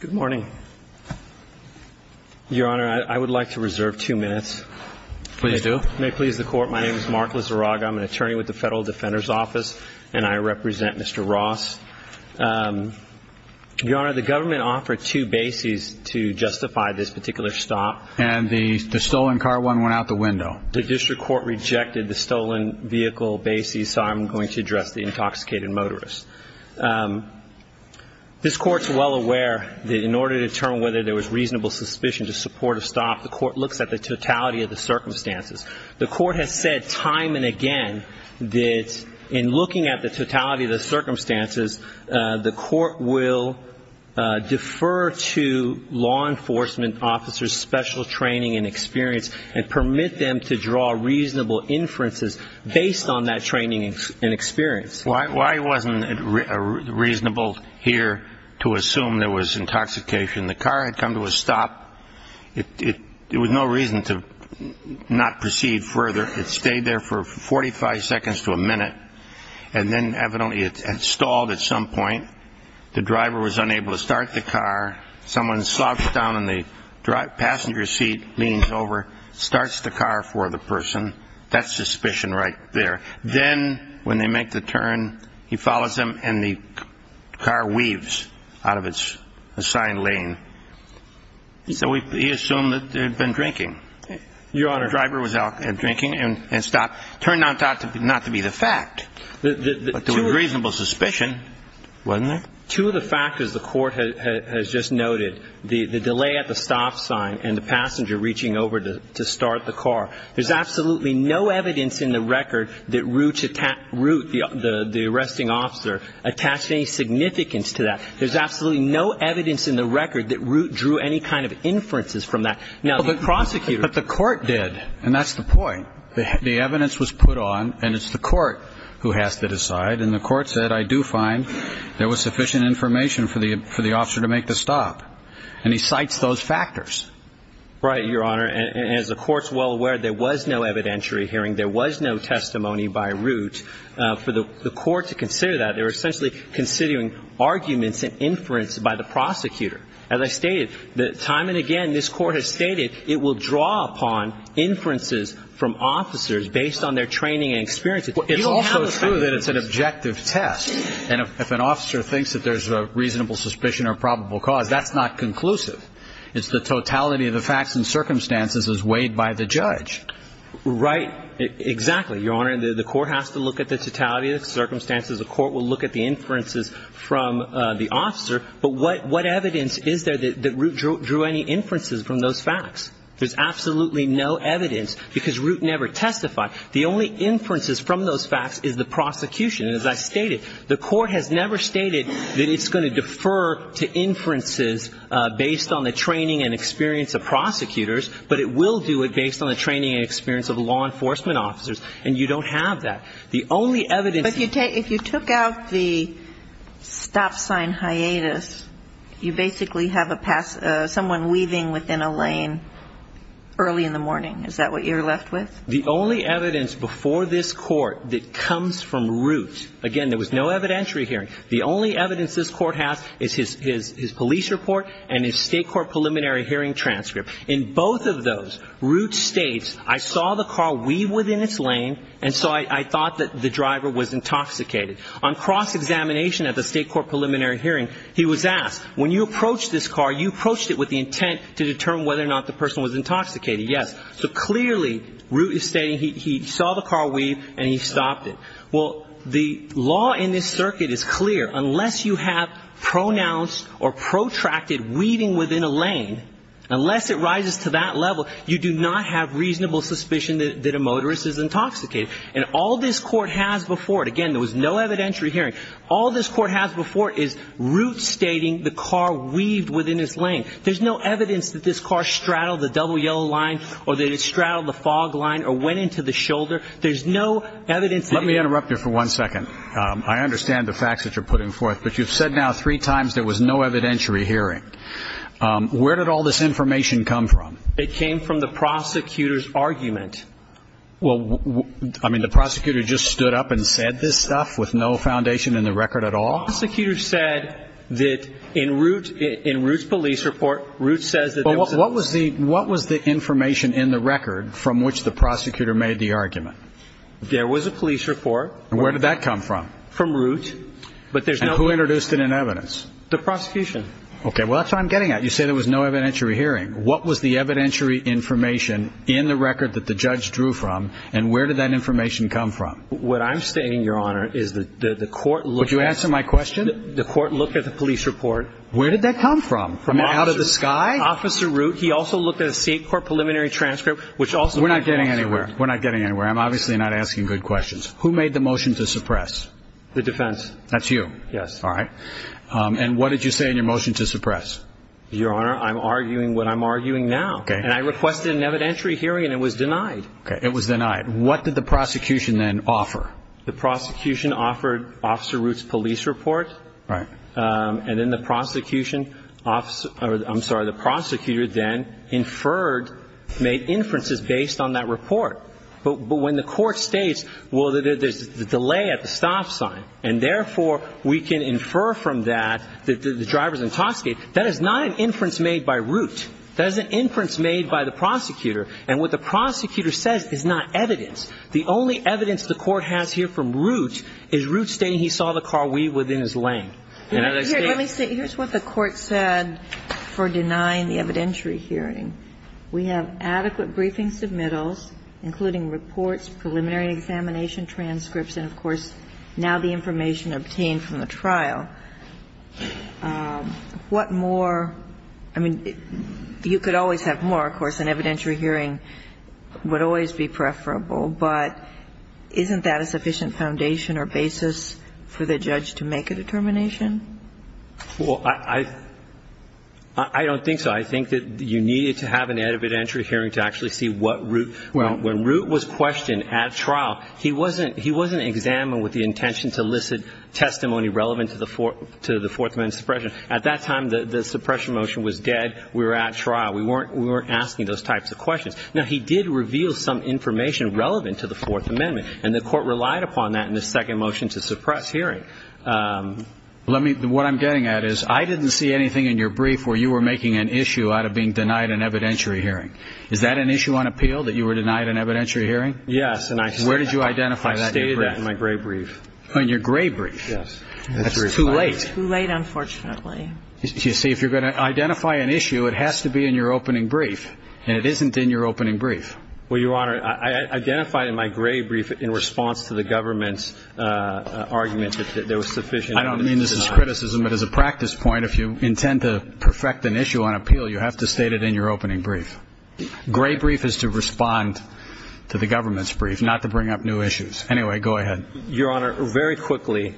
Good morning. Your Honor, I would like to reserve two minutes. Please do. May it please the Court. My name is Mark Lizarraga. I'm an attorney with the Federal Defender's Office and I represent Mr. Ross. Your Honor, the government offered two bases to justify this particular stop. And the stolen car one went out the window. The district court rejected the stolen vehicle bases, so I'm going to address the intoxicated motorist. This Court's well aware that in order to determine whether there was reasonable suspicion to support a stop, the Court looks at the totality of the circumstances. The Court has said time and again that in looking at the totality of the circumstances, the Court will defer to law enforcement officers special training and experience and permit them to draw reasonable inferences based on that training and experience. Why wasn't it reasonable here to assume there was intoxication? The car had come to a stop. It was no reason to not proceed further. It stayed there for 45 seconds to a minute and then evidently it stalled at some point. The driver was unable to start the car. Someone slouched down in the passenger seat, leans over, starts the car for the person. That's suspicion right there. Then when they make the turn, he follows them and the car weaves out of its assigned lane. So he assumed that they had been drinking. Your Honor. The driver was out drinking and stopped. Turned out not to be the fact. But there was reasonable suspicion, wasn't there? Two of the factors the Court has just noted, the delay at the stop sign and the passenger reaching over to start the car, there's absolutely no evidence in the record that Root, the arresting officer, attached any significance to that. There's absolutely no evidence in the record that Root drew any kind of inferences from that. Now, the prosecutor But the Court did, and that's the point. The evidence was put on and it's the Court who has to decide. And the Court said, I do find there was sufficient information for the officer to make the stop. And he cites those factors. Right, Your Honor. And as the Court's well aware, there was no evidentiary hearing. There was no testimony by Root. For the Court to consider that, they were essentially considering arguments and inference by the prosecutor. As I stated, time and again, this Court has stated it will draw upon inferences from officers based on their training and experience. It's also true that it's an objective test. And if an officer thinks that there's a reasonable suspicion or probable cause, that's not conclusive. It's the totality of the facts and circumstances as weighed by the judge. Right. Exactly, Your Honor. The Court has to look at the totality of the circumstances. The Court will look at the inferences from the officer. But what evidence is there that Root drew any inferences from those facts? There's absolutely no evidence because Root never testified. The only inferences from those facts is the prosecution. And as I stated, the Court has never stated that it's going to defer to inferences based on the training and experience of prosecutors, but it will do it based on the training and experience of law enforcement officers. And you don't have that. The only evidence But if you took out the stop sign hiatus, you basically have someone weaving within a lane early in the morning. Is that what you're left with? The only evidence before this Court that comes from Root, again, there was no evidentiary hearing. The only evidence this Court has is his police report and his state court preliminary hearing transcript. In both of those, Root states, I saw the car weave within its lane, and so I thought that the driver was intoxicated. On cross-examination at the state court preliminary hearing, he was asked, when you approached this car, you approached it with the intent to determine whether or not the person was intoxicated. Yes. So clearly, Root is stating he saw the car weave and he stopped it. Well, the law in this circuit is clear. Unless you have pronounced or protracted weaving within a lane, unless it rises to that level, you do not have reasonable suspicion that a motorist is intoxicated. And all this Court has before it, again, there was no evidentiary hearing. All this Court has before it is Root stating the car weaved within its lane. There's no evidence that this car straddled the double yellow line or that it straddled the fog line or went into the shoulder. There's no evidence that he... Let me interrupt you for one second. I understand the facts that you're putting forth, but you've said now three times there was no evidentiary hearing. Where did all this information come from? It came from the prosecutor's argument. Well, I mean, the prosecutor just stood up and said this stuff with no foundation in the record at all? The prosecutor said that in Root's police report, Root says that... Well, what was the information in the record from which the prosecutor made the argument? There was a police report. And where did that come from? From Root. And who introduced it in evidence? The prosecution. Okay. Well, that's what I'm getting at. You say there was no evidentiary hearing. What was the evidentiary information in the record that the judge drew from, and where did that information come from? What I'm saying, Your Honor, is that the court looked at... Would you answer my question? The court looked at the police report. Where did that come from? From out of the sky? Officer Root, he also looked at a state court preliminary transcript, which also... We're not getting anywhere. We're not getting anywhere. I'm obviously not asking good questions. Who made the motion to suppress? The defense. That's you? Yes. All right. And what did you say in your motion to suppress? Your Honor, I'm arguing what I'm arguing now. Okay. And I requested an evidentiary hearing, and it was denied. Okay. It was denied. What did the prosecution then offer? The prosecution offered Officer Root's police report. Right. And then the prosecutor then inferred, made inferences based on that report. But when the court states, well, there's a delay at the stop sign, and therefore we can infer from that that the driver's intoxicated, that is not an inference made by Root. That is an inference made by the prosecutor. And what the prosecutor says is not evidence. The only evidence the court has here from Root is Root stating he saw the car weave within his lane. Let me say, here's what the court said for denying the evidentiary hearing. We have adequate briefing submittals, including reports, preliminary examination transcripts, and, of course, now the information obtained from the trial. What more, I mean, you could always have more, of course. An evidentiary hearing would always be preferable. But isn't that a sufficient foundation or basis for the judge to make a determination? Well, I don't think so. I think that you needed to have an evidentiary hearing to actually see what Root, when Root was questioned at trial, he wasn't examined with the intention to elicit testimony relevant to the Fourth Amendment suppression. At that time, the suppression motion was dead. We were at trial. We weren't asking those types of questions. Now, he did reveal some information relevant to the Fourth Amendment. And the court relied upon that in the second motion to suppress hearing. What I'm getting at is I didn't see anything in your brief where you were making an issue out of being denied an evidentiary hearing. Is that an issue on appeal, that you were denied an evidentiary hearing? Yes. Where did you identify that? I identified it in my gray brief. In your gray brief? Yes. That's too late. Too late, unfortunately. You see, if you're going to identify an issue, it has to be in your opening brief. And it isn't in your opening brief. Well, Your Honor, I identified in my gray brief in response to the government's argument that there was sufficient evidence to deny. I don't mean this as criticism, but as a practice point, if you intend to perfect an issue on appeal, you have to state it in your opening brief. Gray brief is to respond to the government's brief, not to bring up new issues. Anyway, go ahead. Your Honor, very quickly,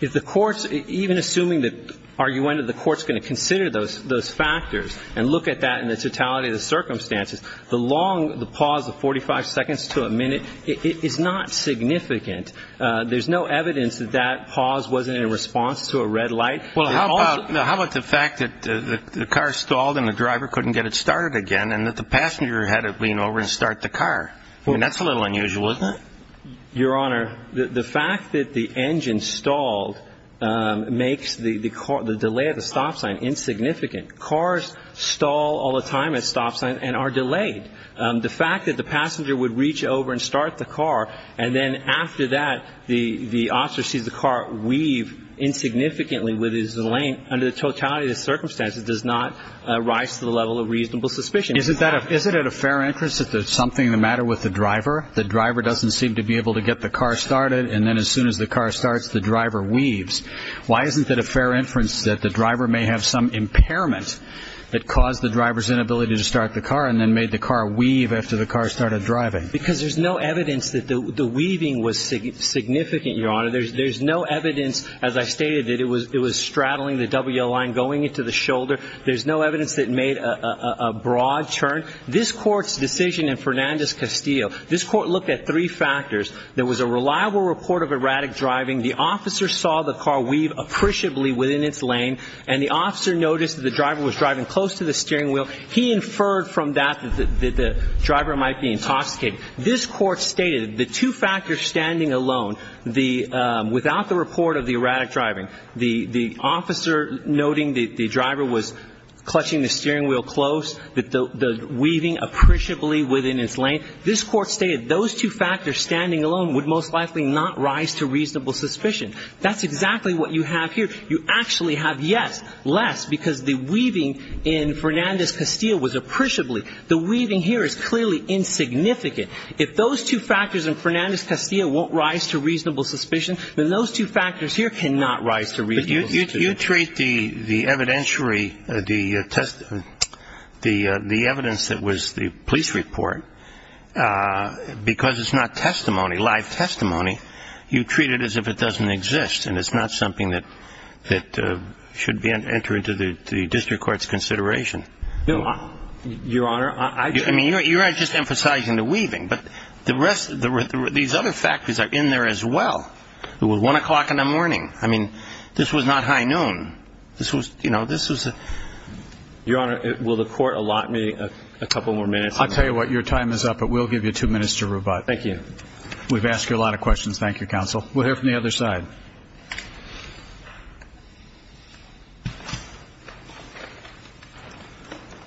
if the courts, even assuming the argument of the courts going to consider those factors and look at that in the totality of the circumstances, the long pause of 45 seconds to a minute is not significant. There's no evidence that that pause wasn't in response to a red light. Well, how about the fact that the car stalled and the driver couldn't get it started again and that the passenger had to lean over and start the car? I mean, that's a little unusual, isn't it? Your Honor, the fact that the engine stalled makes the delay at the stop sign insignificant. Cars stall all the time at stop signs and are delayed. The fact that the passenger would reach over and start the car and then after that the officer sees the car weave insignificantly with his lane, under the totality of the circumstances, does not rise to the level of reasonable suspicion. Isn't it a fair inference that there's something the matter with the driver? The driver doesn't seem to be able to get the car started and then as soon as the car starts, the driver weaves. Why isn't it a fair inference that the driver may have some impairment that caused the driver's inability to start the car and then made the car weave after the car started driving? Because there's no evidence that the weaving was significant, Your Honor. There's no evidence, as I stated, that it was straddling the double yellow line, going into the shoulder. There's no evidence that it made a broad turn. This Court's decision in Fernandez-Castillo, this Court looked at three factors. There was a reliable report of erratic driving. The officer saw the car weave appreciably within its lane and the officer noticed that the driver was driving close to the steering wheel. He inferred from that that the driver might be intoxicated. This Court stated those two factors standing alone would most likely not rise to reasonable suspicion. That's exactly what you have here. You actually have yes, less, because the weaving in Fernandez-Castillo was appreciably. The weaving here is clearly insignificant. If those two factors in Fernandez-Castillo won't rise to reasonable suspicion, then those two factors here cannot rise to reasonable suspicion. But you treat the evidentiary evidence of the driver's inability to start the test, the evidence that was the police report, because it's not testimony, live testimony, you treat it as if it doesn't exist and it's not something that should enter into the district court's consideration. No, Your Honor. I mean, you're not just emphasizing the weaving, but the rest, these other factors are in there as well. It was 1 o'clock in the morning. I mean, this was not high noon. This was, you know, this was a... Your Honor, will the Court allot me a couple more minutes? I'll tell you what, your time is up, but we'll give you two minutes to rebut. Thank you. We've asked you a lot of questions. Thank you, Counsel. We'll hear from the other side.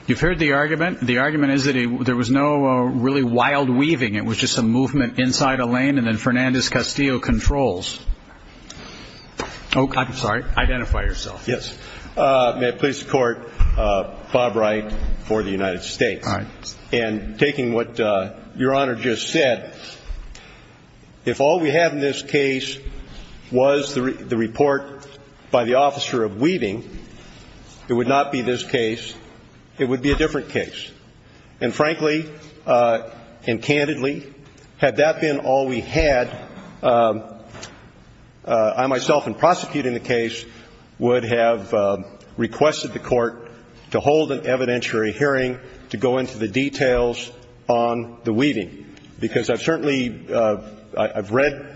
You've heard the argument. The argument is that there was no really wild weaving. It was just some movement inside a lane and then Fernandez-Castillo controls. I'm sorry. Identify yourself. Yes. May it please the Court, Bob Wright for the United States. All right. And taking what Your Honor just said, if all we had in this case was the report by the officer of weaving, it would not be this case. It would be a different case. And frankly and candidly, had that been all we had, I myself in prosecuting the case would have requested the Court to hold an evidentiary hearing to go into the details on the weaving. Because I've certainly, I've read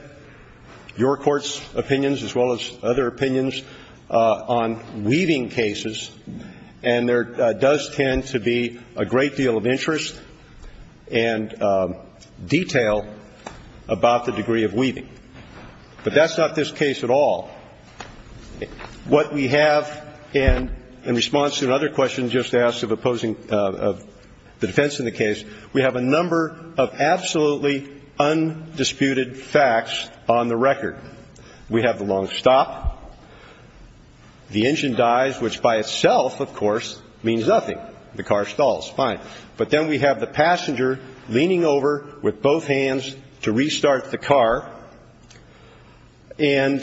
your Court's opinions as well as other opinions on weaving cases, and there does tend to be a great deal of interest and detail about the degree of weaving. But that's not this case at all. What we have in response to another question just asked of opposing the defense in the case, we have a number of absolutely undisputed facts on the record. We have the long stop. The engine dies, which by itself, of course, means nothing. The car stalls. Fine. But then we have the passenger leaning over with both hands to restart the car. And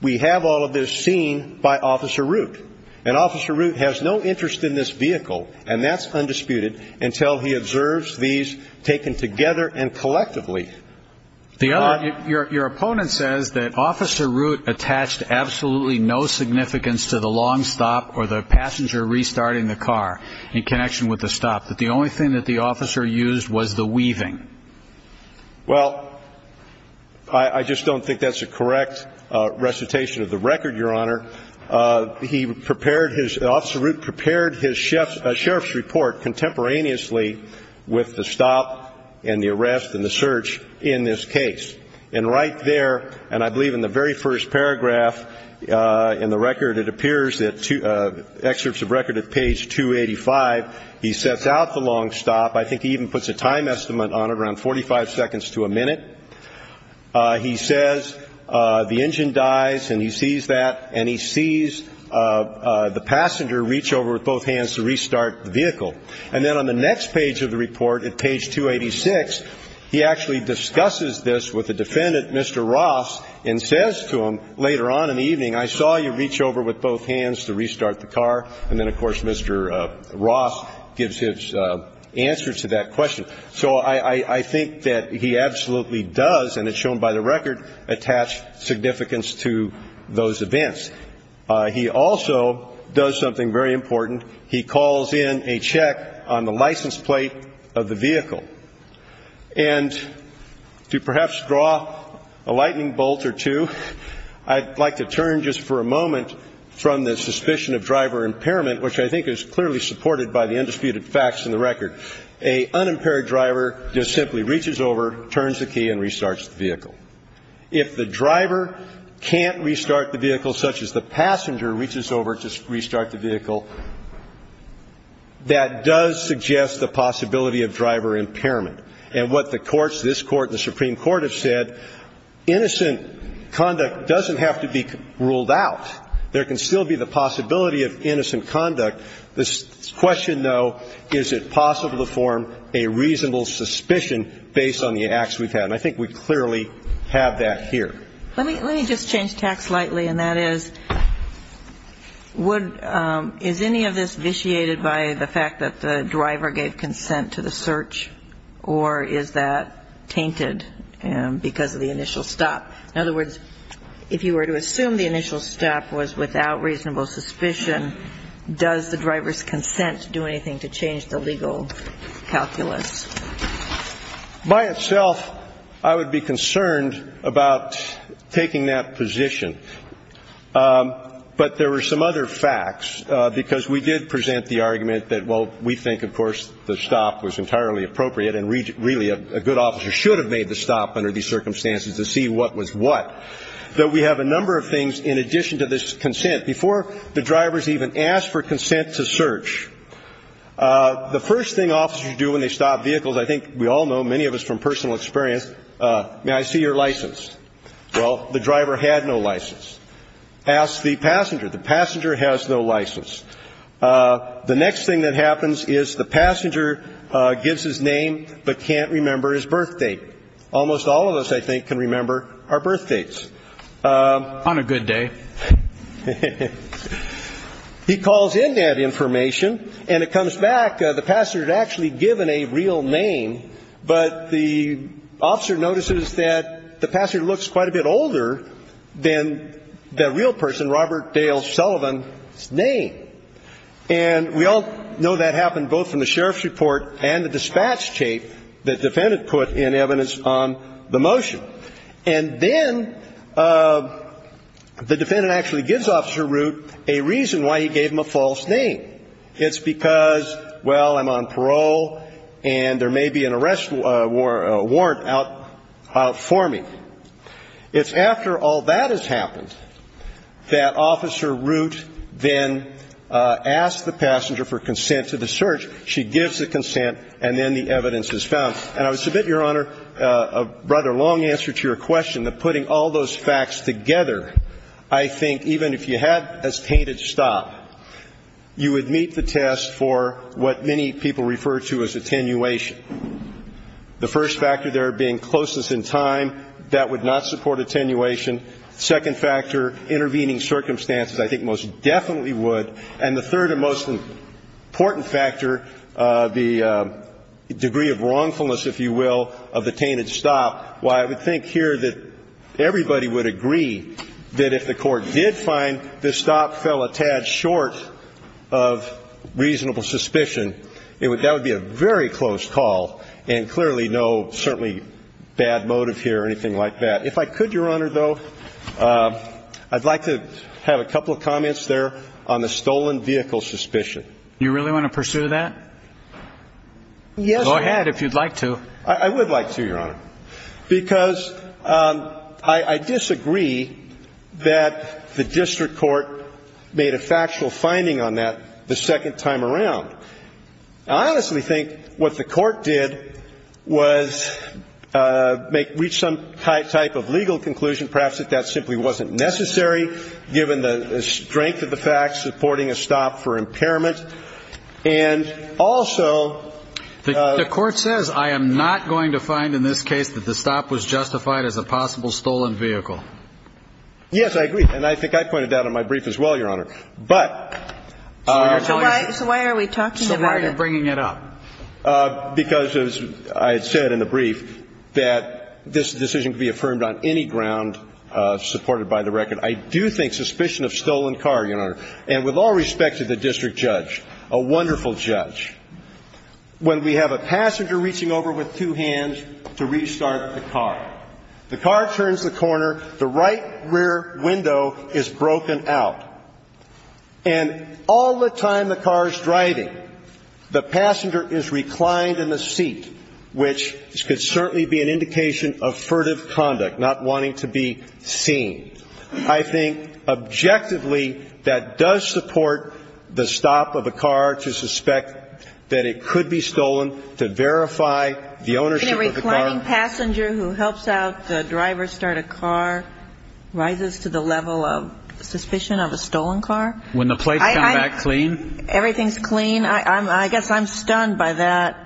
we have all of this seen by Officer Root. And Officer Root has no interest in this vehicle, and that's undisputed, until he observes these taken together and collectively. Your opponent says that Officer Root attached absolutely no significance to the long stop or the passenger restarting the car in connection with the stop, that the only thing that the officer used was the weaving. Well, I just don't think that's a correct recitation of the record, Your Honor. He prepared his, Officer Root prepared his sheriff's report contemporaneously with the stop and the arrest and the search in this case. And right there, and I believe in the very first paragraph in the record, it appears, excerpts of record at page 285, he sets out the long stop. I think he even puts a time estimate on it, around 45 seconds to a minute. He says the engine dies, and he sees that. And he sees the passenger reach over with both hands to restart the vehicle. And then on the next page of the report, at page 286, he actually discusses this with the defendant, Mr. Ross, and says to him later on in the evening, I saw you reach over with both hands to restart the car. And then, of course, Mr. Ross gives his answer to that question. So I think that he absolutely does, and it's shown by the record, attach significance to those events. He also does something very important. He calls in a check on the license plate of the vehicle. And to perhaps draw a lightning bolt or two, I'd like to turn just for a moment from the suspicion of driver impairment, which I think is clearly supported by the undisputed facts in the record. A unimpaired driver just simply reaches over, turns the key, and restarts the vehicle. If the driver can't restart the vehicle, such as the passenger reaches over to restart the vehicle, that does suggest the possibility of driver impairment. And what the courts, this court and the Supreme Court, have said, innocent conduct doesn't have to be ruled out. There can still be the possibility of innocent conduct. The question, though, is it possible to form a reasonable suspicion based on the acts we've had? And I think we clearly have that here. Let me just change tack slightly, and that is, is any of this vitiated by the fact that the driver gave consent to the search, or is that tainted because of the initial stop? In other words, if you were to assume the initial stop was without reasonable suspicion, does the driver's consent do anything to change the legal calculus? By itself, I would be concerned about taking that position. But there were some other facts, because we did present the argument that, well, we think, of course, the stop was entirely appropriate, and really a good officer should have made the stop under these circumstances to see what was what. Though we have a number of things in addition to this consent. Before the drivers even asked for consent to search, the first thing officers do when they stop vehicles, I think we all know, many of us from personal experience, may I see your license? Well, the driver had no license. Ask the passenger. The passenger has no license. The next thing that happens is the passenger gives his name but can't remember his birth date. Almost all of us, I think, can remember our birth dates. On a good day. He calls in that information, and it comes back, the passenger's actually given a real name, but the officer notices that the passenger looks quite a bit older than the real person, Robert Dale Sullivan's name. And we all know that happened both from the sheriff's report and the dispatch tape that the defendant put in evidence on the motion. And then the defendant actually gives Officer Root a reason why he gave him a false name. It's because, well, I'm on parole, and there may be an arrest warrant out for me. It's after all that has happened that Officer Root then asks the passenger for consent to the search. She gives the consent, and then the evidence is found. And I would submit, Your Honor, a rather long answer to your question, that putting all those facts together, I think even if you had a tainted stop, you would meet the test for what many people refer to as attenuation. The first factor there being closeness in time, that would not support attenuation. Second factor, intervening circumstances, I think most definitely would. And the third and most important factor, the degree of wrongfulness, if you will, of the tainted stop. Why, I would think here that everybody would agree that if the court did find the stop fell a tad short of reasonable suspicion, that would be a very close call and clearly no, certainly, bad motive here or anything like that. If I could, Your Honor, though, I'd like to have a couple of comments there on the stolen vehicle suspicion. You really want to pursue that? Yes, Your Honor. Go ahead if you'd like to. I would like to, Your Honor, because I disagree that the district court made a factual finding on that the second time around. I honestly think what the court did was reach some type of legal conclusion, perhaps that that simply wasn't necessary given the strength of the facts supporting a stop for impairment. And also... The court says, I am not going to find in this case that the stop was justified as a possible stolen vehicle. Yes, I agree. And I think I pointed that out in my brief as well, Your Honor. But... So why are we talking about it? So why are you bringing it up? Because, as I said in the brief, that this decision could be affirmed on any ground supported by the record. I do think suspicion of stolen car, Your Honor, and with all respect to the district judge, a wonderful judge, when we have a passenger reaching over with two hands to restart the car. The car turns the corner. The right rear window is broken out. And all the time the car is driving, the passenger is reclined in the seat, which could certainly be an indication of furtive conduct, not wanting to be seen. I think objectively that does support the stop of a car to suspect that it could be stolen, to verify the ownership of the car. Can a reclining passenger who helps out the driver start a car rises to the level of suspicion of a stolen car? When the plates come back clean? Everything's clean. I guess I'm stunned by that,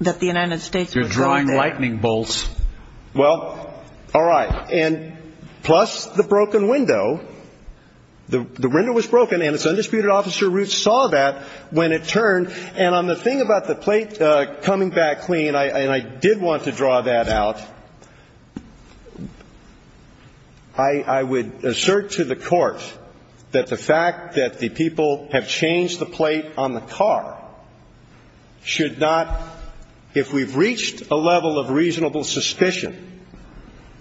that the United States would go there. You're drawing lightning bolts. Well, all right. And plus the broken window. The window was broken, and its undisputed officer Ruth saw that when it turned. And on the thing about the plate coming back clean, and I did want to draw that out, I would assert to the court that the fact that the people have changed the plate on the car should not, if we've reached a level of reasonable suspicion,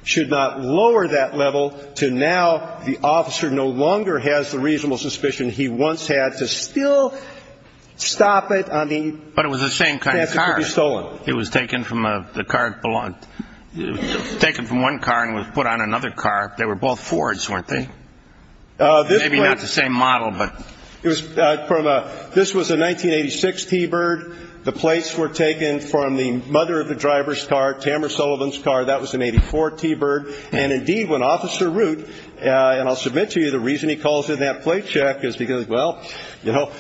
should not lower that level to now the officer no longer has the reasonable suspicion he once had to still stop it. I mean. But it was the same kind of car. It could be stolen. It was taken from the car it belonged. It was taken from one car and was put on another car. They were both Fords, weren't they? Maybe not the same model, but. This was a 1986 T-Bird. The plates were taken from the mother of the driver's car, Tamara Sullivan's car. That was an 84 T-Bird. And indeed, when Officer Ruth, and I'll submit to you the reason he calls it that plate check is because, well, you know,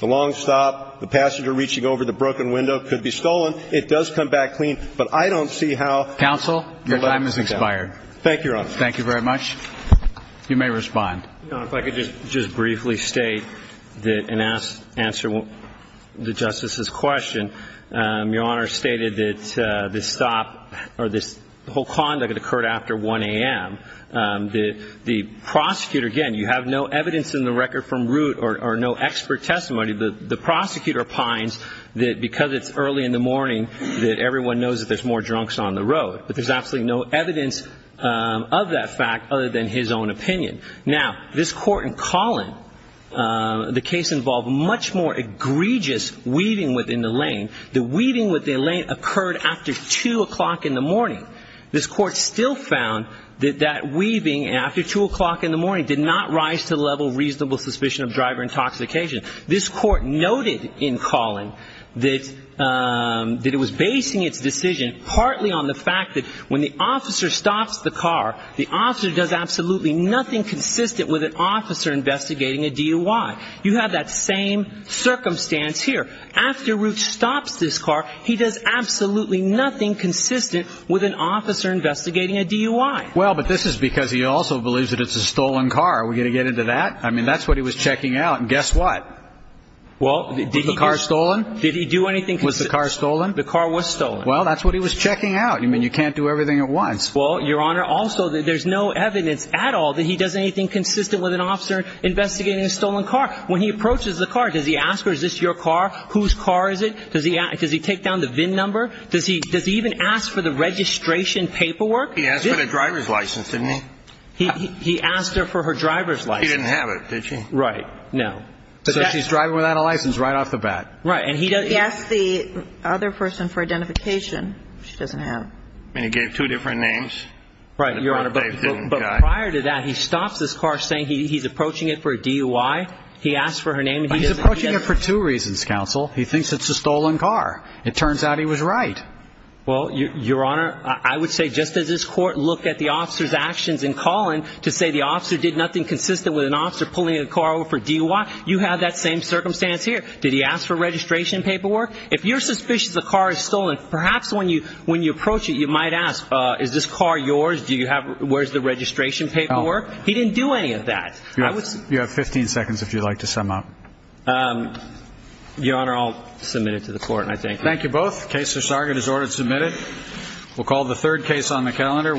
the long stop, the passenger reaching over the broken window could be stolen. It does come back clean. But I don't see how. Counsel, your time has expired. Thank you, Your Honor. Thank you very much. You may respond. Your Honor, if I could just briefly state and answer the Justice's question. Your Honor stated that this stop or this whole conduct occurred after 1 a.m. The prosecutor, again, you have no evidence in the record from Ruth or no expert testimony, but the prosecutor opines that because it's early in the morning that everyone knows that there's more drunks on the road. But there's absolutely no evidence of that fact other than his own opinion. Now, this court in Collin, the case involved much more egregious weaving within the lane. The weaving within the lane occurred after 2 o'clock in the morning. This court still found that that weaving after 2 o'clock in the morning did not rise to the level of reasonable suspicion of driver intoxication. This court noted in Collin that it was basing its decision partly on the fact that when the officer stops the car, the officer does absolutely nothing consistent with an officer investigating a DUI. You have that same circumstance here. After Ruth stops this car, he does absolutely nothing consistent with an officer investigating a DUI. Well, but this is because he also believes that it's a stolen car. Are we going to get into that? I mean, that's what he was checking out. And guess what? Well, did he do anything? Was the car stolen? The car was stolen. Well, that's what he was checking out. I mean, you can't do everything at once. Well, Your Honor, also, there's no evidence at all that he does anything consistent with an officer investigating a stolen car. When he approaches the car, does he ask her, is this your car? Whose car is it? Does he take down the VIN number? Does he even ask for the registration paperwork? He asked for the driver's license, didn't he? He asked her for her driver's license. She didn't have it, did she? Right. No. So she's driving without a license right off the bat. Right. He asked the other person for identification. She doesn't have it. And he gave two different names. Right, Your Honor. But prior to that, he stops this car saying he's approaching it for a DUI. He asked for her name. He's approaching it for two reasons, counsel. He thinks it's a stolen car. It turns out he was right. Well, Your Honor, I would say just as this court looked at the officer's actions in calling to say the officer did nothing consistent with an officer pulling a car over for DUI, you have that same circumstance here. Did he ask for registration paperwork? If you're suspicious a car is stolen, perhaps when you approach it, you might ask, is this car yours? Where's the registration paperwork? He didn't do any of that. You have 15 seconds if you'd like to sum up. Your Honor, I'll submit it to the court and I thank you. Thank you both. Case for Sargon is ordered submitted. We'll call the third case on the calendar.